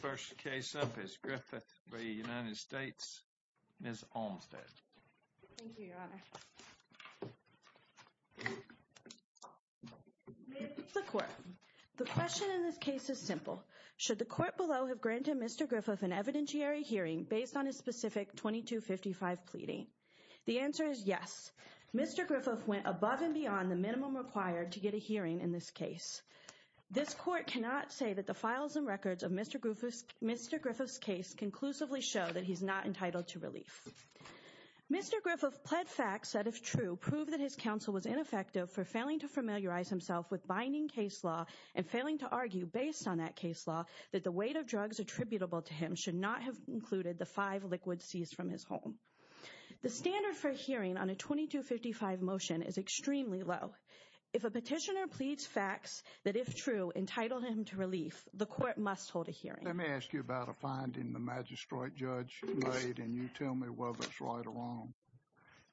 First case up is Griffith v. United States. Ms. Olmstead. Thank you, Your Honor. The question in this case is simple. Should the court below have granted Mr. Griffith an evidentiary hearing based on his specific 2255 pleading? The answer is yes. Mr. Griffith went above and beyond the minimum required to get a hearing in this case. This court cannot say that the files and records of Mr. Griffith's Mr. Griffith's case conclusively show that he's not entitled to relief. Mr. Griffith pled facts that if true, prove that his counsel was ineffective for failing to familiarize himself with binding case law and failing to argue based on that case law that the weight of drugs attributable to him should not have included the five liquid seized from his home. The standard for hearing on a 2255 motion is extremely low. If a petitioner pleads facts that if true, entitled him to relief, the court must hold a hearing. Let me ask you about a finding the magistrate judge made, and you tell me whether it's right or wrong.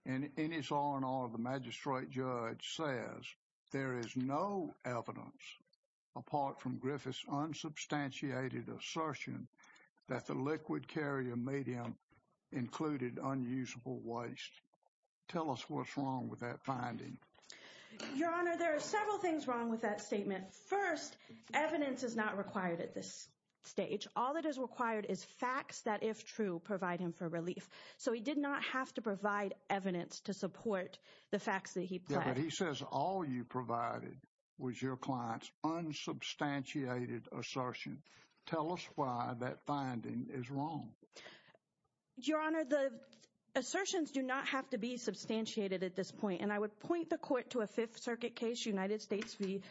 And in his R&R, the magistrate judge says there is no evidence apart from Griffith's unsubstantiated assertion that the liquid carrier medium included unusable waste. Tell us what's wrong with that finding. Your Honor, there are several things wrong with that statement. First, evidence is not required at this stage. All that is required is facts that, if true, provide him for relief. So he did not have to provide evidence to support the facts that he says all you provided was your clients unsubstantiated assertion. Tell us why that finding is wrong. Your Honor, the assertions do not have to be substantiated at this point. And I would point the court to a Fifth Circuit case, United States v.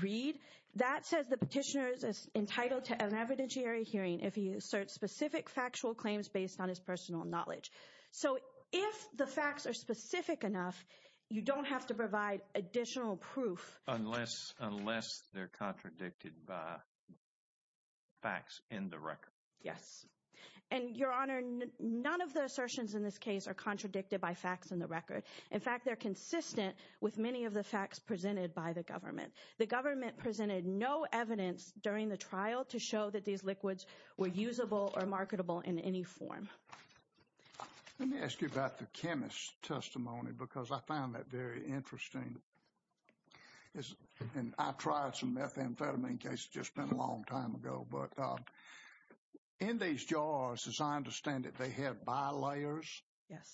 Reed. That says the petitioner is entitled to an evidentiary hearing if he asserts specific factual claims based on his personal knowledge. So if the facts are specific enough, you don't have to provide additional proof. Unless they're contradicted by facts in the record. Yes. And, Your Honor, none of the assertions in this case are contradicted by facts in the record. In fact, they're consistent with many of the facts presented by the government. The government presented no evidence during the trial to show that these liquids were usable or marketable in any form. Let me ask you about the chemist's testimony because I found that very interesting. And I tried some methamphetamine just a long time ago. But in these jars, as I understand it, they had bilayers. Yes.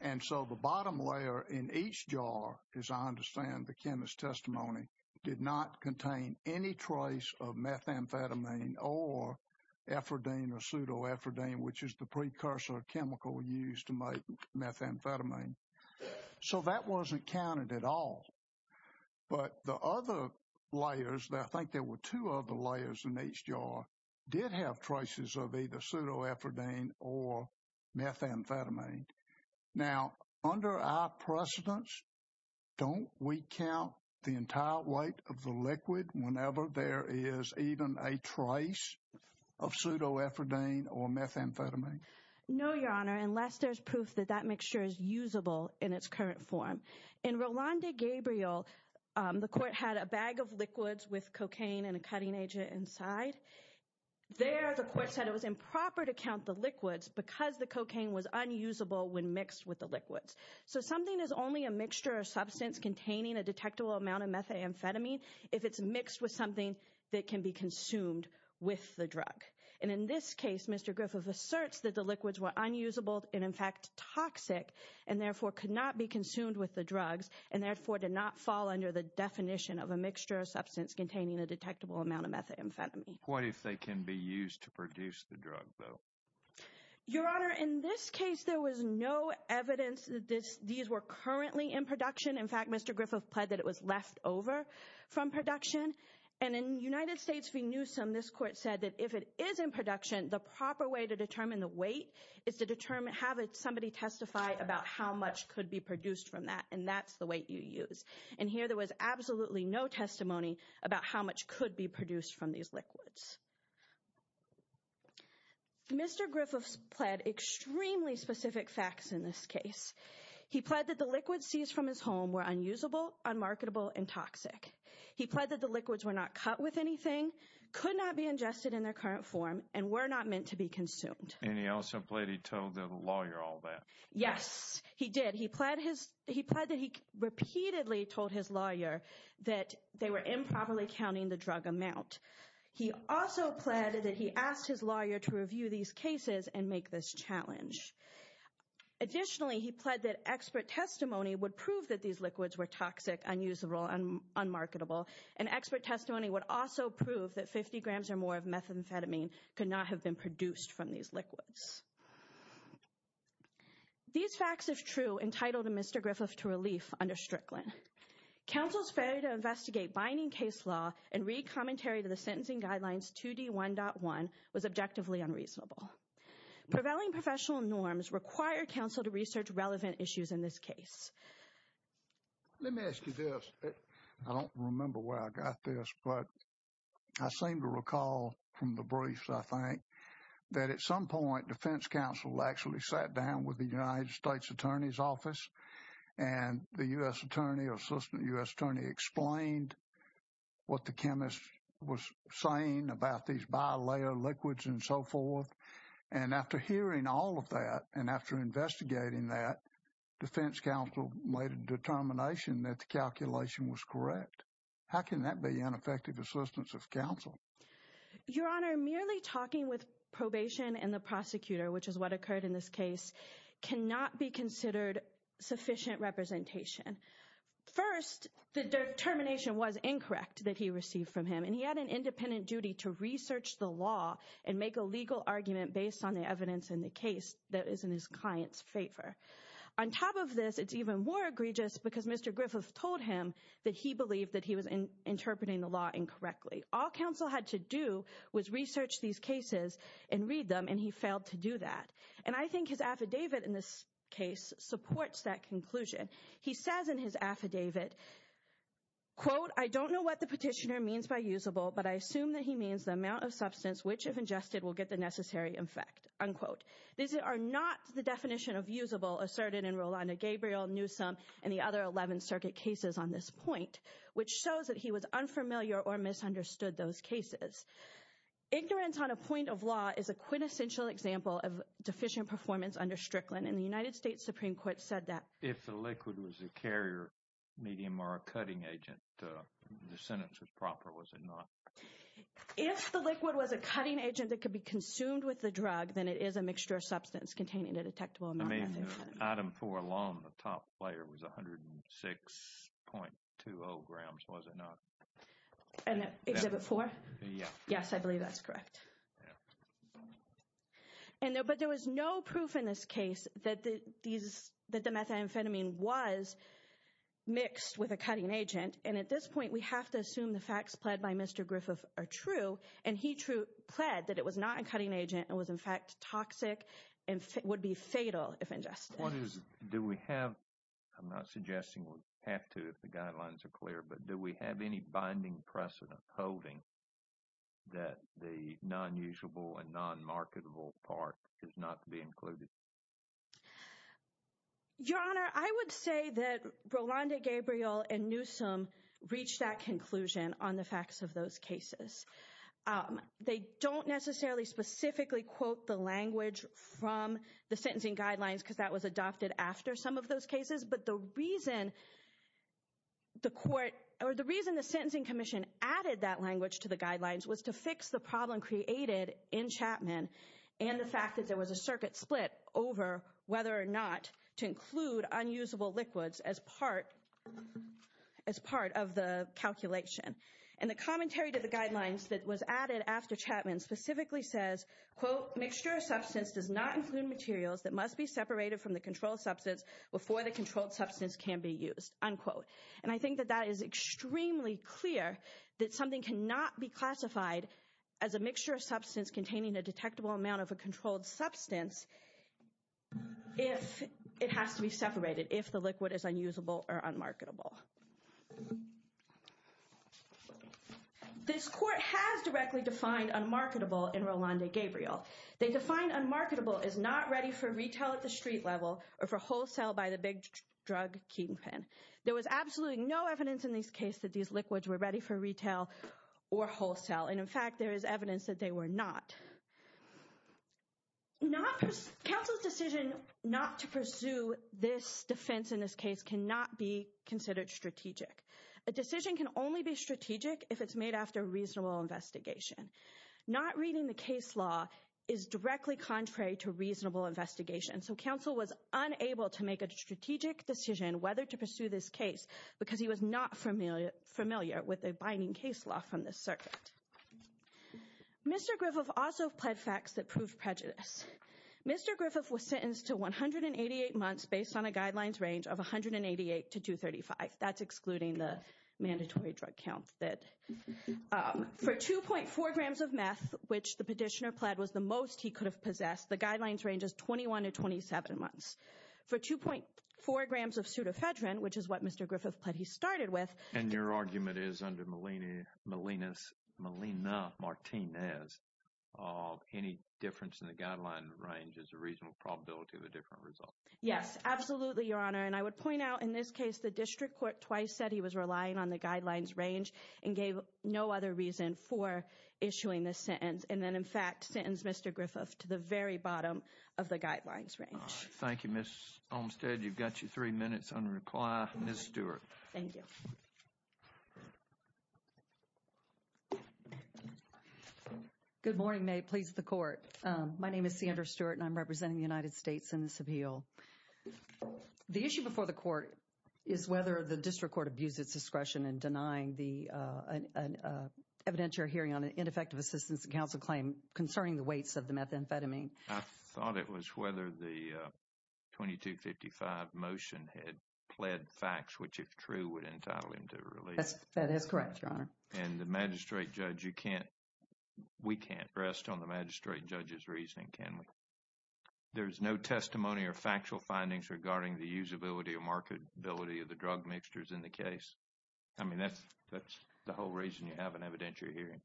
And so the bottom layer in each jar, as I understand the chemist's testimony, did not contain any trace of methamphetamine or ephedrine or pseudoephedrine, which is the precursor chemical used to make methamphetamine. So that wasn't counted at all. But the other layers, I think there were two other layers in each jar, did have traces of either pseudoephedrine or methamphetamine. Now, under our precedence, don't we count the entire weight of the liquid whenever there is even a trace of pseudoephedrine or methamphetamine? No, Your Honor, unless there's proof that that mixture is usable in its current form. In Rolando Gabriel, the court had a bag of liquids with cocaine and a cutting agent inside. There, the court said it was improper to count the liquids because the cocaine was unusable when mixed with the liquids. So something is only a mixture of substance containing a detectable amount of methamphetamine if it's mixed with something that can be consumed with the drug. And in this case, Mr. Griffith asserts that the liquids were unusable and in fact toxic and therefore could not be consumed with the drugs and therefore did not fall under the definition of a mixture of substance containing a detectable amount of methamphetamine. What if they can be used to produce the drug, though? Your Honor, in this case, there was no evidence that these were currently in production. In fact, Mr. Griffith pled that it was left over from production. And in United States v. Newsom, this court said that if it is in production, the proper way to determine the weight is to have somebody testify about how much could be produced from that, and that's the weight you use. And here there was absolutely no testimony about how much could be produced from these liquids. Mr. Griffith pled extremely specific facts in this case. He pled that the liquids seized from his home were unusable, unmarketable, and toxic. He pled that the liquids were not cut with anything, could not be ingested in their current form, and were not meant to be consumed. And he also pled he told the lawyer all that. Yes, he did. He pled that he repeatedly told his lawyer that they were improperly counting the drug amount. He also pled that he asked his lawyer to review these cases and make this challenge. Additionally, he pled that expert testimony would prove that these liquids were toxic, unusable, and unmarketable. And expert testimony would also prove that 50 grams or more of methamphetamine could not have been produced from these liquids. These facts is true entitled to Mr. Griffith to relief under Strickland. Counsel's failure to investigate binding case law and read commentary to the sentencing guidelines 2D1.1 was objectively unreasonable. Prevailing professional norms require counsel to research relevant issues in this case. Let me ask you this. I don't remember where I got this, but I seem to recall from the briefs, I think, that at some point defense counsel actually sat down with the United States Attorney's Office and the U.S. Attorney or Assistant U.S. Attorney explained what the chemist was saying about these bilayer liquids and so forth. And after hearing all of that and after investigating that, defense counsel made a determination that the calculation was correct. How can that be ineffective assistance of counsel? Your Honor, merely talking with probation and the prosecutor, which is what occurred in this case, cannot be considered sufficient representation. First, the determination was incorrect that he received from him, and he had an independent duty to research the law and make a legal argument based on the evidence in the case that is in his client's favor. On top of this, it's even more egregious because Mr. Griffith told him that he believed that he was interpreting the law incorrectly. All counsel had to do was research these cases and read them, and he failed to do that. And I think his affidavit in this case supports that conclusion. He says in his affidavit, quote, I don't know what the petitioner means by usable, but I assume that he means the amount of substance which, if ingested, will get the necessary effect, unquote. These are not the definition of usable asserted in Rolanda Gabriel, Newsom, and the other 11th Circuit cases on this point, which shows that he was unfamiliar or misunderstood those cases. Ignorance on a point of law is a quintessential example of deficient performance under Strickland, and the United States Supreme Court said that. If the liquid was a carrier medium or a cutting agent, the sentence was proper, was it not? If the liquid was a cutting agent that could be consumed with the drug, then it is a mixture of substance containing a detectable amount. Item four alone, the top layer was 106.20 grams, was it not? Exhibit four? Yes, I believe that's correct. But there was no proof in this case that the methamphetamine was mixed with a cutting agent. And at this point, we have to assume the facts pled by Mr. Griffith are true, and he true pled that it was not a cutting agent and was in fact toxic and would be fatal if ingested. What is, do we have, I'm not suggesting we have to if the guidelines are clear, but do we have any binding precedent holding that the non-usable and non-marketable part is not to be included? Your Honor, I would say that Rolanda Gabriel and Newsom reached that conclusion on the facts of those cases. They don't necessarily specifically quote the language from the sentencing guidelines because that was adopted after some of those cases. But the reason the court or the reason the Sentencing Commission added that language to the guidelines was to fix the problem created in Chapman and the fact that there was a circuit split over whether or not to include unusable liquids as part of the calculation. And the commentary to the guidelines that was added after Chapman specifically says, quote, mixture of substance does not include materials that must be separated from the controlled substance before the controlled substance can be used, unquote. And I think that that is extremely clear that something cannot be classified as a mixture of substance containing a detectable amount of a controlled substance if it has to be separated, if the liquid is unusable or unmarketable. This court has directly defined unmarketable in Rolanda Gabriel. They define unmarketable as not ready for retail at the street level or for wholesale by the big drug kingpin. There was absolutely no evidence in this case that these liquids were ready for retail or wholesale. And in fact, there is evidence that they were not. Counsel's decision not to pursue this defense in this case cannot be considered strategic. A decision can only be strategic if it's made after a reasonable investigation. Not reading the case law is directly contrary to reasonable investigation. So counsel was unable to make a strategic decision whether to pursue this case because he was not familiar with a binding case law from the circuit. Mr. Griffith also pled facts that proved prejudice. Mr. Griffith was sentenced to 188 months based on a guidelines range of 188 to 235. That's excluding the mandatory drug count that for 2.4 grams of meth, which the petitioner pled was the most he could have possessed. The guidelines range is 21 to 27 months for 2.4 grams of pseudofedrin, which is what Mr. Griffith pled he started with. And your argument is under Malina Martinez. Any difference in the guideline range is a reasonable probability of a different result. Yes, absolutely, Your Honor. And I would point out in this case, the district court twice said he was relying on the guidelines range and gave no other reason for issuing this sentence. And then, in fact, sentenced Mr. Griffith to the very bottom of the guidelines range. Thank you, Ms. Olmstead. You've got your three minutes on reply. Ms. Stewart. Thank you. Good morning. May it please the court. My name is Sandra Stewart and I'm representing the United States in this appeal. The issue before the court is whether the district court abused its discretion in denying the evidentiary hearing on an ineffective assistance to counsel claim concerning the weights of the methamphetamine. I thought it was whether the 2255 motion had pled facts, which, if true, would entitle him to release. That is correct, Your Honor. And the magistrate judge, you can't, we can't rest on the magistrate judge's reasoning, can we? There's no testimony or factual findings regarding the usability or marketability of the drug mixtures in the case. I mean, that's the whole reason you have an evidentiary hearing.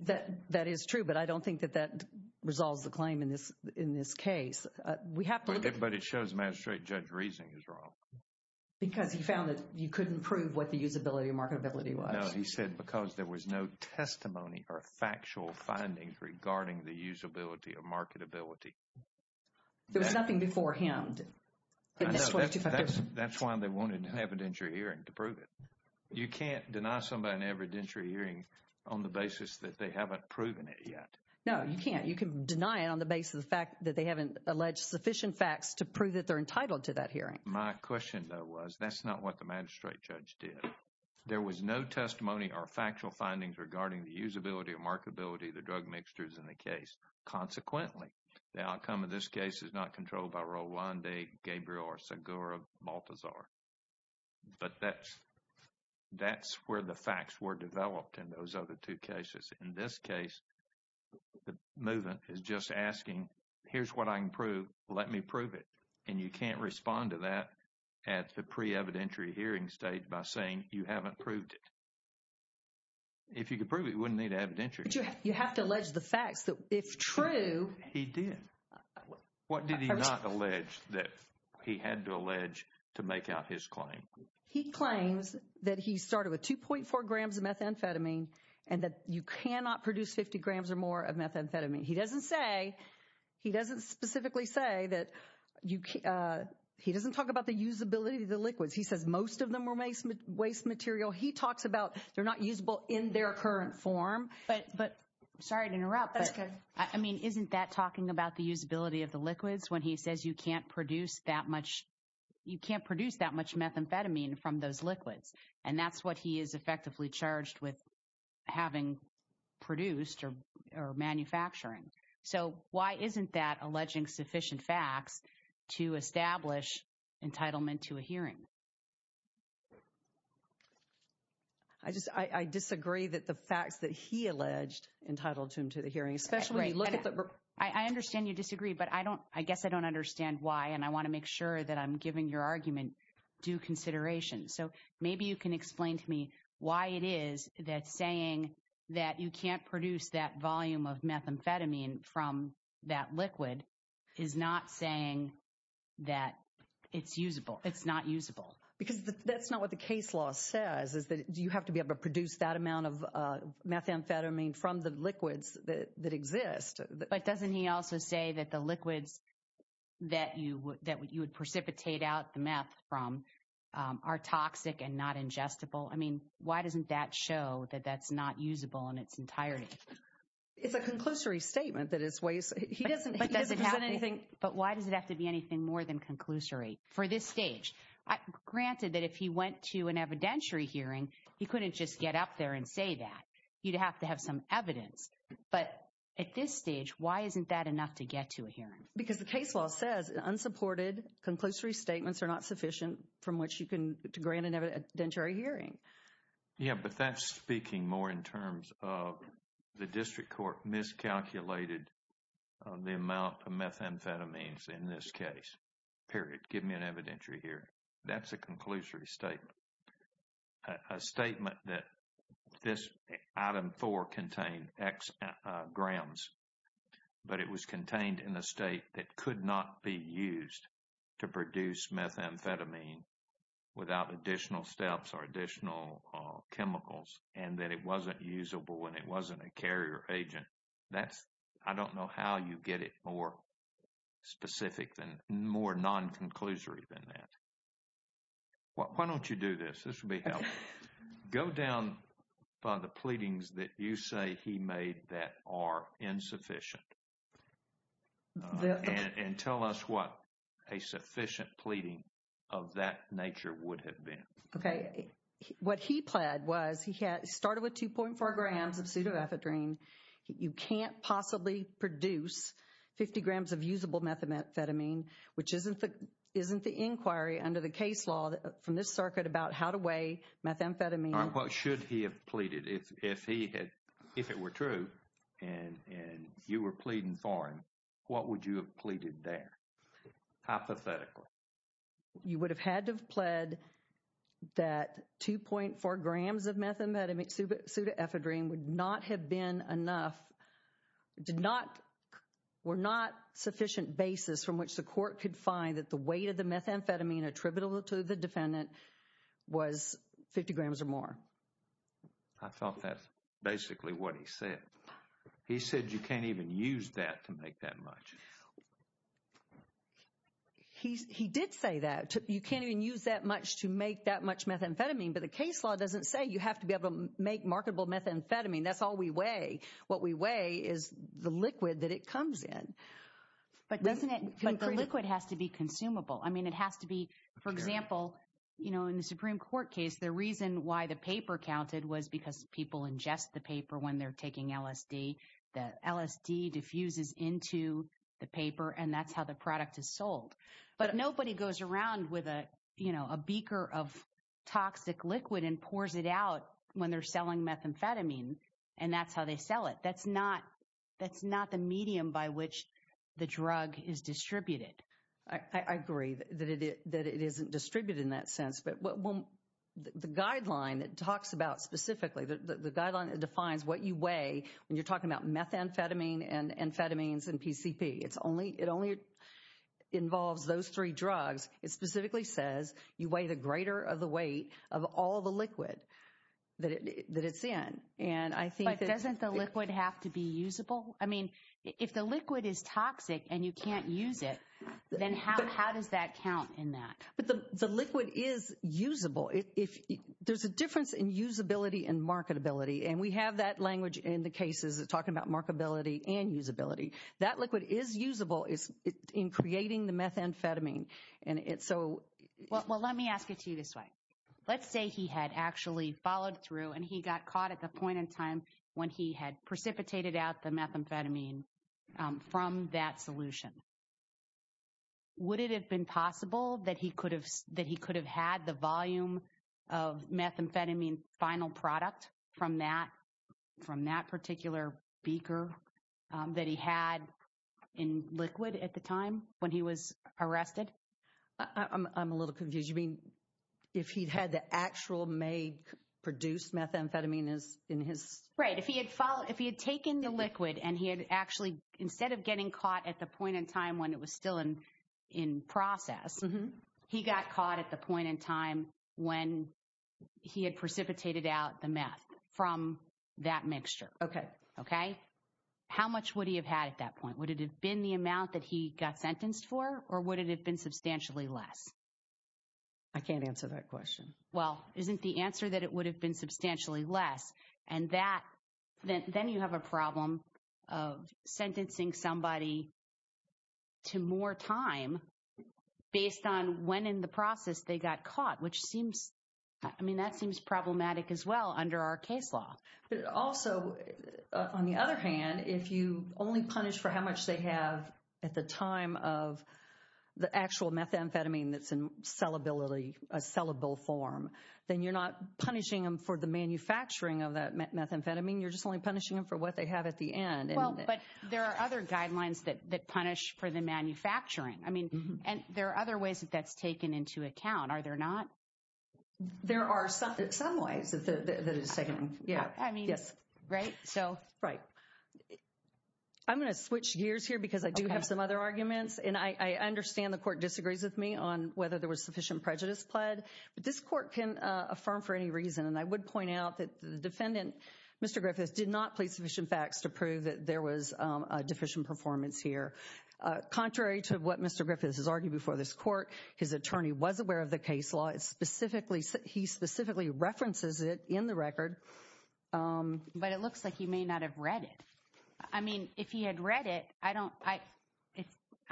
That is true, but I don't think that that resolves the claim in this case. We have to look at it. But it shows magistrate judge's reasoning is wrong. Because he found that you couldn't prove what the usability or marketability was. No, he said because there was no testimony or factual findings regarding the usability or marketability. There was nothing before him. That's why they wanted an evidentiary hearing to prove it. You can't deny somebody an evidentiary hearing on the basis that they haven't proven it yet. No, you can't. You can deny it on the basis of the fact that they haven't alleged sufficient facts to prove that they're entitled to that hearing. My question, though, was that's not what the magistrate judge did. There was no testimony or factual findings regarding the usability or marketability of the drug mixtures in the case. Consequently, the outcome of this case is not controlled by Rolande, Gabriel, or Segura Baltazar. But that's where the facts were developed in those other two cases. In this case, the movement is just asking, here's what I can prove. Let me prove it. And you can't respond to that at the pre-evidentiary hearing stage by saying you haven't proved it. If you could prove it, you wouldn't need evidentiary. But you have to allege the facts. If true. He did. What did he not allege that he had to allege to make out his claim? He claims that he started with 2.4 grams of methamphetamine and that you cannot produce 50 grams or more of methamphetamine. He doesn't say he doesn't specifically say that he doesn't talk about the usability of the liquids. He says most of them were waste material. He talks about they're not usable in their current form. Sorry to interrupt. I mean, isn't that talking about the usability of the liquids when he says you can't produce that much? You can't produce that much methamphetamine from those liquids. And that's what he is effectively charged with having produced or manufacturing. So, why isn't that alleging sufficient facts to establish entitlement to a hearing? I just I disagree that the facts that he alleged entitled him to the hearing, especially look at the. I understand you disagree, but I don't I guess I don't understand why. And I want to make sure that I'm giving your argument due consideration. So maybe you can explain to me why it is that saying that you can't produce that volume of methamphetamine from that liquid is not saying that it's usable. It's not usable because that's not what the case law says is that you have to be able to produce that amount of methamphetamine from the liquids that exist. But doesn't he also say that the liquids that you would that you would precipitate out the meth from are toxic and not ingestible? I mean, why doesn't that show that that's not usable in its entirety? It's a conclusory statement that it's waste. He doesn't present anything. But why does it have to be anything more than conclusory? For this stage, granted that if he went to an evidentiary hearing, he couldn't just get up there and say that you'd have to have some evidence. But at this stage, why isn't that enough to get to a hearing? Because the case law says unsupported conclusory statements are not sufficient from which you can grant an evidentiary hearing. Yeah, but that's speaking more in terms of the district court miscalculated the amount of methamphetamines in this case. Period. Give me an evidentiary hearing. That's a conclusory statement. A statement that this item four contained X grams, but it was contained in a state that could not be used to produce methamphetamine without additional steps or additional chemicals. And that it wasn't usable when it wasn't a carrier agent. That's I don't know how you get it more specific than more non-conclusory than that. Why don't you do this? This will be helpful. Go down by the pleadings that you say he made that are insufficient. And tell us what a sufficient pleading of that nature would have been. OK, what he pled was he started with 2.4 grams of pseudoethadrine. You can't possibly produce 50 grams of usable methamphetamine, which isn't the isn't the inquiry under the case law from this circuit about how to weigh methamphetamine. But should he have pleaded if he had if it were true and you were pleading for him, what would you have pleaded there? Hypothetically, you would have had to have pled that 2.4 grams of methamphetamine pseudoethadrine would not have been enough. Did not were not sufficient basis from which the court could find that the weight of the methamphetamine attributable to the defendant was 50 grams or more. I thought that's basically what he said. He said you can't even use that to make that much. He's he did say that you can't even use that much to make that much methamphetamine. But the case law doesn't say you have to be able to make marketable methamphetamine. That's all we weigh. What we weigh is the liquid that it comes in. But doesn't it? But the liquid has to be consumable. I mean, it has to be, for example, you know, in the Supreme Court case, the reason why the paper counted was because people ingest the paper when they're taking LSD. The LSD diffuses into the paper and that's how the product is sold. But nobody goes around with a, you know, a beaker of toxic liquid and pours it out when they're selling methamphetamine. And that's how they sell it. That's not that's not the medium by which the drug is distributed. I agree that it is that it isn't distributed in that sense. But when the guideline that talks about specifically the guideline, it defines what you weigh when you're talking about methamphetamine and amphetamines and PCP. It's only it only involves those three drugs. It specifically says you weigh the greater of the weight of all the liquid that it's in. And I think that doesn't the liquid have to be usable? I mean, if the liquid is toxic and you can't use it, then how does that count in that? But the liquid is usable if there's a difference in usability and marketability. And we have that language in the cases of talking about marketability and usability. That liquid is usable is in creating the methamphetamine. Well, let me ask it to you this way. Let's say he had actually followed through and he got caught at the point in time when he had precipitated out the methamphetamine from that solution. Would it have been possible that he could have that he could have had the volume of methamphetamine final product from that from that particular beaker that he had in liquid at the time when he was arrested? I'm a little confused. I mean, if he had the actual may produce methamphetamine is in his right. If he had taken the liquid and he had actually instead of getting caught at the point in time when it was still in process, he got caught at the point in time when he had precipitated out the meth from that mixture. Okay. Okay. How much would he have had at that point? Would it have been the amount that he got sentenced for or would it have been substantially less? I can't answer that question. Well, isn't the answer that it would have been substantially less? And that then you have a problem of sentencing somebody to more time based on when in the process they got caught, which seems I mean, that seems problematic as well under our case law. But also, on the other hand, if you only punish for how much they have at the time of the actual methamphetamine that's in sellability, a sellable form, then you're not punishing them for the manufacturing of that methamphetamine. You're just only punishing them for what they have at the end. Well, but there are other guidelines that punish for the manufacturing. I mean, and there are other ways that that's taken into account. Are there not? There are some ways that it's taken. I mean, right? Right. I'm going to switch gears here because I do have some other arguments. And I understand the court disagrees with me on whether there was sufficient prejudice pled. But this court can affirm for any reason. And I would point out that the defendant, Mr. Griffiths, did not plead sufficient facts to prove that there was a deficient performance here. Contrary to what Mr. Griffiths has argued before this court, his attorney was aware of the case law. Specifically, he specifically references it in the record. But it looks like he may not have read it. I mean, if he had read it, I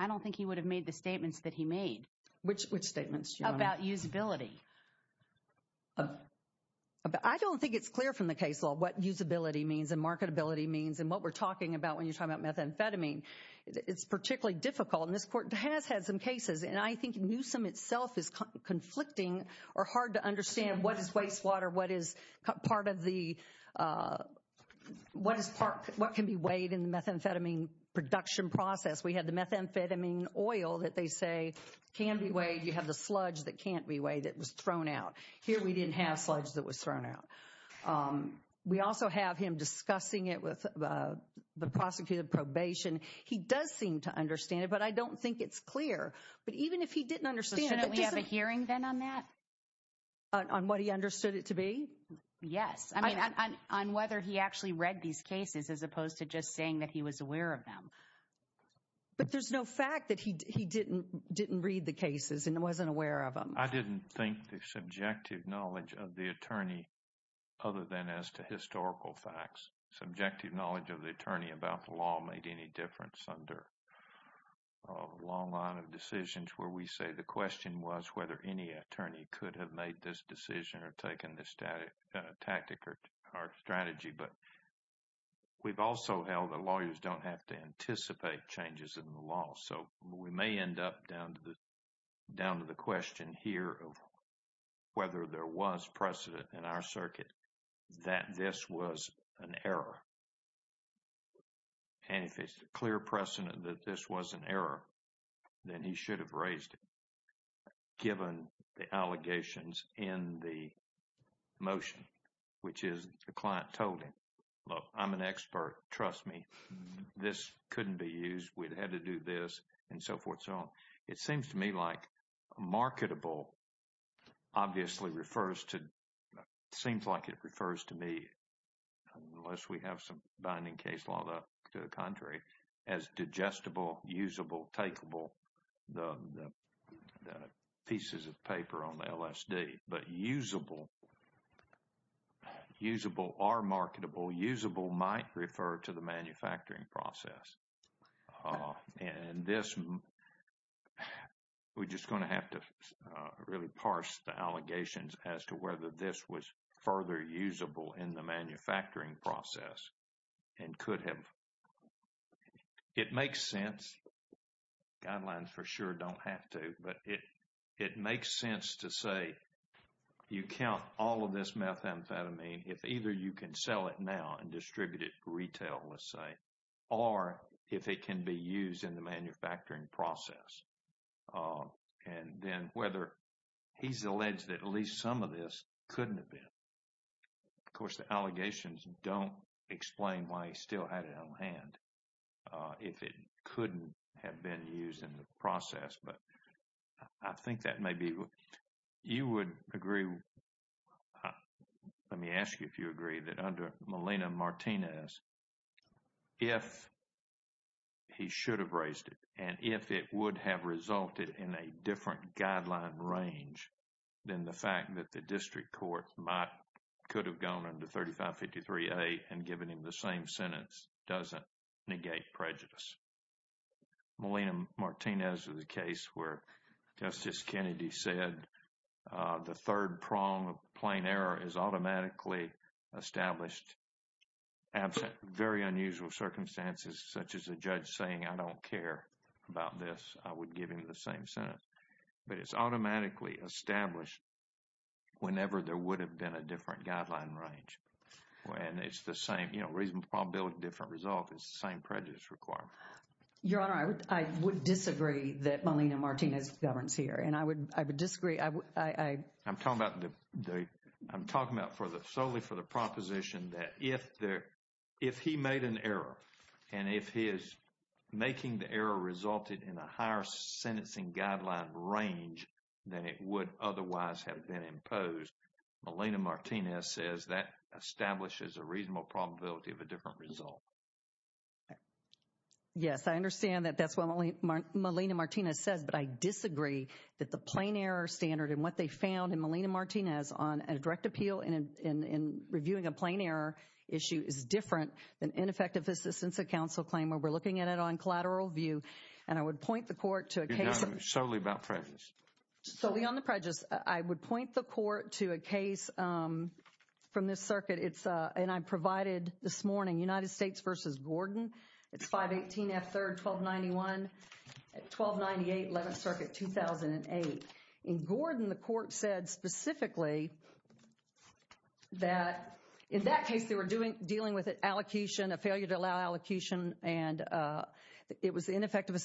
don't think he would have made the statements that he made. Which statements, Your Honor? About usability. I don't think it's clear from the case law what usability means and marketability means and what we're talking about when you're talking about methamphetamine. It's particularly difficult. And this court has had some cases. And I think Newsom itself is conflicting or hard to understand what is wastewater, what is part of the, what can be weighed in the methamphetamine production process. We have the methamphetamine oil that they say can be weighed. You have the sludge that can't be weighed, that was thrown out. Here we didn't have sludge that was thrown out. We also have him discussing it with the prosecutor of probation. He does seem to understand it, but I don't think it's clear. But even if he didn't understand it. Shouldn't we have a hearing then on that? On what he understood it to be? Yes. I mean, on whether he actually read these cases as opposed to just saying that he was aware of them. But there's no fact that he didn't read the cases and wasn't aware of them. I didn't think the subjective knowledge of the attorney other than as to historical facts. Subjective knowledge of the attorney about the law made any difference under a long line of decisions where we say the question was whether any attorney could have made this decision or taken this tactic or strategy. But we've also held that lawyers don't have to anticipate changes in the law. So we may end up down to the question here of whether there was precedent in our circuit that this was an error. And if it's a clear precedent that this was an error, then he should have raised it. But given the allegations in the motion, which is the client told him, look, I'm an expert. Trust me, this couldn't be used. We'd had to do this and so forth. It seems to me like marketable obviously refers to, seems like it refers to me, unless we have some binding case law to the contrary, as digestible, usable, takeable, the pieces of paper on the LSD. But usable, usable or marketable, usable might refer to the manufacturing process. And this, we're just going to have to really parse the allegations as to whether this was further usable in the manufacturing process and could have. It makes sense. Guidelines for sure don't have to. But it makes sense to say you count all of this methamphetamine. If either you can sell it now and distribute it retail, let's say, or if it can be used in the manufacturing process. And then whether he's alleged that at least some of this couldn't have been. Of course, the allegations don't explain why he still had it on hand. If it couldn't have been used in the process. But I think that maybe you would agree. Let me ask you if you agree that under Melina Martinez, if he should have raised it and if it would have resulted in a different guideline range, then the fact that the district court could have gone under 3553A and given him the same sentence doesn't negate prejudice. Melina Martinez is a case where Justice Kennedy said the third prong of plain error is automatically established. Absent very unusual circumstances, such as a judge saying, I don't care about this. I would give him the same sentence. But it's automatically established whenever there would have been a different guideline range. And it's the same, you know, reasonable probability of a different result. It's the same prejudice requirement. Your Honor, I would disagree that Melina Martinez governs here. And I would disagree. I'm talking about the I'm talking about for the solely for the proposition that if there if he made an error and if he is making the error resulted in a higher sentencing guideline range than it would otherwise have been imposed. Melina Martinez says that establishes a reasonable probability of a different result. Yes, I understand that. That's what Melina Martinez says. But I disagree that the plain error standard and what they found in Melina Martinez on a direct appeal and in reviewing a plain error issue is different than ineffective assistance of counsel claim where we're looking at it on collateral view. And I would point the court to a case solely about prejudice. Solely on the prejudice. I would point the court to a case from this circuit. It's and I provided this morning, United States versus Gordon. It's 518 F third 1291 1298 11th Circuit 2008 in Gordon. The court said specifically that in that case they were doing dealing with an allocation, a failure to allow allocation. And it was ineffective.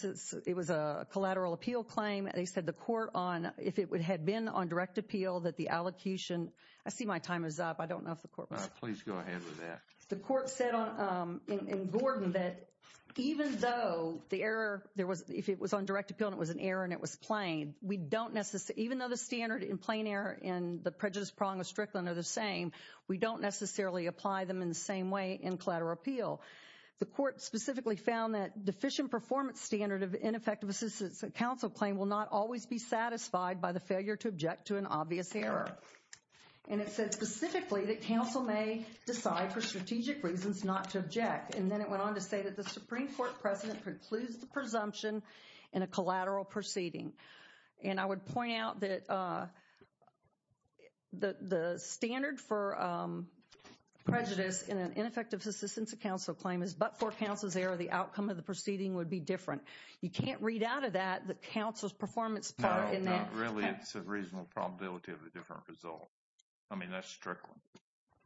It was a collateral appeal claim. They said the court on if it would have been on direct appeal that the allocation. I see my time is up. I don't know if the court. Please go ahead with that. The court said in Gordon that even though the error there was if it was on direct appeal, it was an error and it was plain. We don't necessarily even though the standard in plain error and the prejudice prong of Strickland are the same. We don't necessarily apply them in the same way in collateral appeal. The court specifically found that deficient performance standard of ineffective assistance. The council claim will not always be satisfied by the failure to object to an obvious error. And it said specifically that council may decide for strategic reasons not to object. And then it went on to say that the Supreme Court precedent precludes the presumption in a collateral proceeding. And I would point out that the standard for prejudice in an ineffective assistance of council claim is but for council's error, the outcome of the proceeding would be different. You can't read out of that the council's performance part in that. Really, it's a reasonable probability of a different result. I mean, that's Strickland.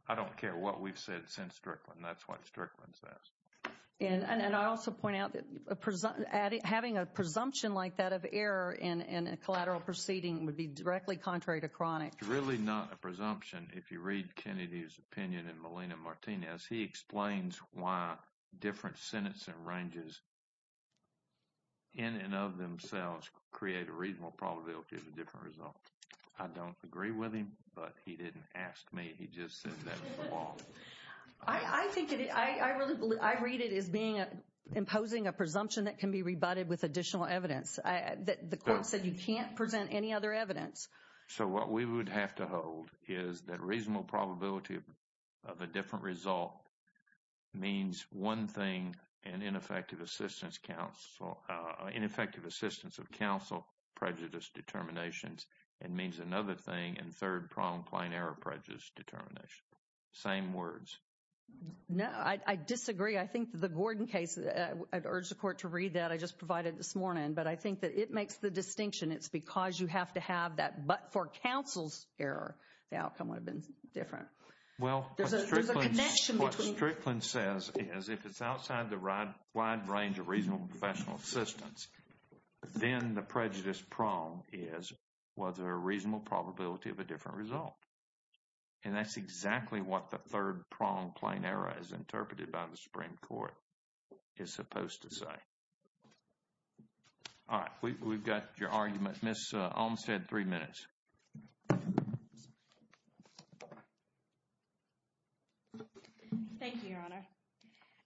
I don't care what we've said since Strickland. That's what Strickland says. And I also point out that having a presumption like that of error in a collateral proceeding would be directly contrary to chronic. It's really not a presumption if you read Kennedy's opinion in Molina Martinez. He explains why different sentencing ranges in and of themselves create a reasonable probability of a different result. I don't agree with him, but he didn't ask me. He just said that was the law. I think it is. I really believe I read it as being imposing a presumption that can be rebutted with additional evidence. The court said you can't present any other evidence. So what we would have to hold is that reasonable probability of a different result means one thing in ineffective assistance of council prejudice determinations. It means another thing in third problem plain error prejudice determination. Same words. No, I disagree. I think the Gordon case, I'd urge the court to read that. I just provided this morning, but I think that it makes the distinction. It's because you have to have that. But for counsel's error, the outcome would have been different. Well, there's a connection. Strickland says is if it's outside the right wide range of reasonable professional assistance, then the prejudice prong is whether a reasonable probability of a different result. And that's exactly what the third prong plain error is interpreted by the Supreme Court is supposed to say. All right, we've got your argument. Miss Olmstead, three minutes. Thank you, Your Honor.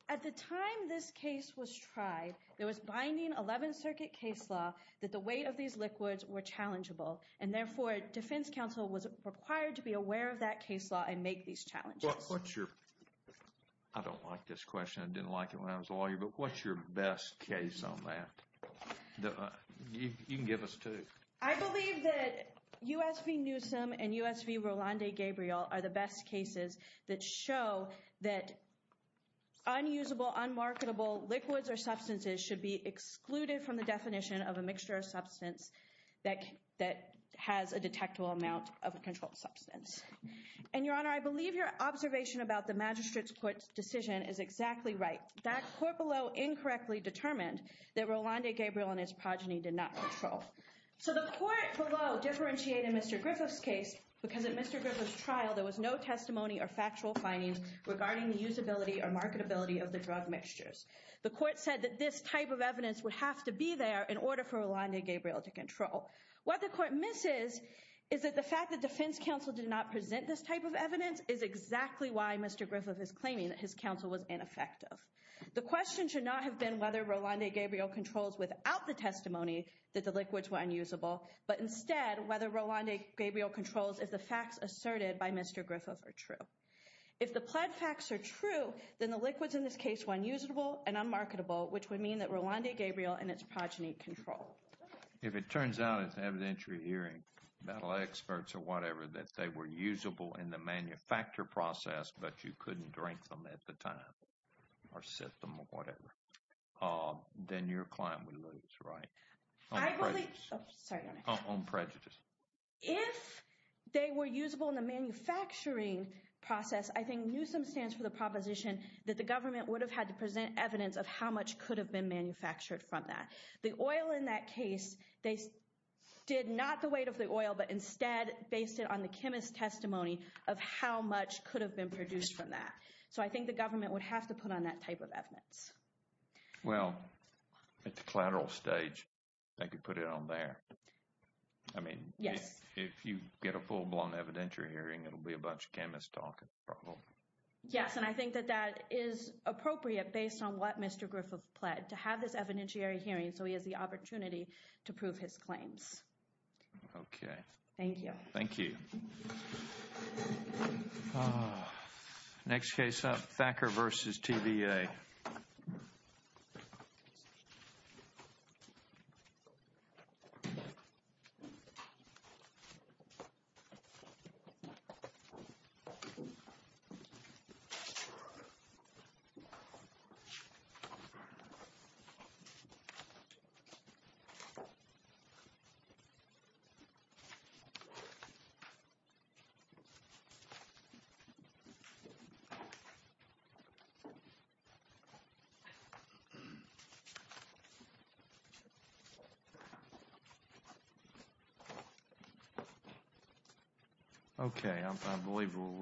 At the time this case was tried, there was binding 11th Circuit case law that the weight of these liquids were challengeable. And therefore, defense counsel was required to be aware of that case law and make these challenges. I don't like this question. I didn't like it when I was lawyer. But what's your best case on that? You can give us two. I believe that U.S. v. Newsom and U.S. v. Rolande Gabriel are the best cases that show that unusable, unmarketable liquids or substances should be excluded from the definition of a mixture of substance that has a detectable amount of a controlled substance. And, Your Honor, I believe your observation about the magistrate's court decision is exactly right. That court below incorrectly determined that Rolande Gabriel and his progeny did not control. So the court below differentiated Mr. Griffith's case because in Mr. Griffith's trial, there was no testimony or factual findings regarding the usability or marketability of the drug mixtures. The court said that this type of evidence would have to be there in order for Rolande Gabriel to control. What the court misses is that the fact that defense counsel did not present this type of evidence is exactly why Mr. Griffith is claiming that his counsel was ineffective. The question should not have been whether Rolande Gabriel controls without the testimony that the liquids were unusable, but instead whether Rolande Gabriel controls if the facts asserted by Mr. Griffith are true. If the pled facts are true, then the liquids in this case were unusable and unmarketable, which would mean that Rolande Gabriel and his progeny controlled. If it turns out it's evident you're hearing battle experts or whatever that they were usable in the manufacture process, but you couldn't drink them at the time or sip them or whatever, then your client would lose, right? On prejudice. If they were usable in the manufacturing process, I think Newsom stands for the proposition that the government would have had to present evidence of how much could have been manufactured from that. The oil in that case, they did not the weight of the oil, but instead based it on the chemist's testimony of how much could have been produced from that. So I think the government would have to put on that type of evidence. Well, at the collateral stage, I could put it on there. I mean, yes, if you get a full blown evidentiary hearing, it'll be a bunch of chemists talking. Yes, and I think that that is appropriate based on what Mr. Griffith pled to have this evidentiary hearing. So he has the opportunity to prove his claims. OK, thank you. Thank you. Next case up, Thacker versus TVA. Thank you.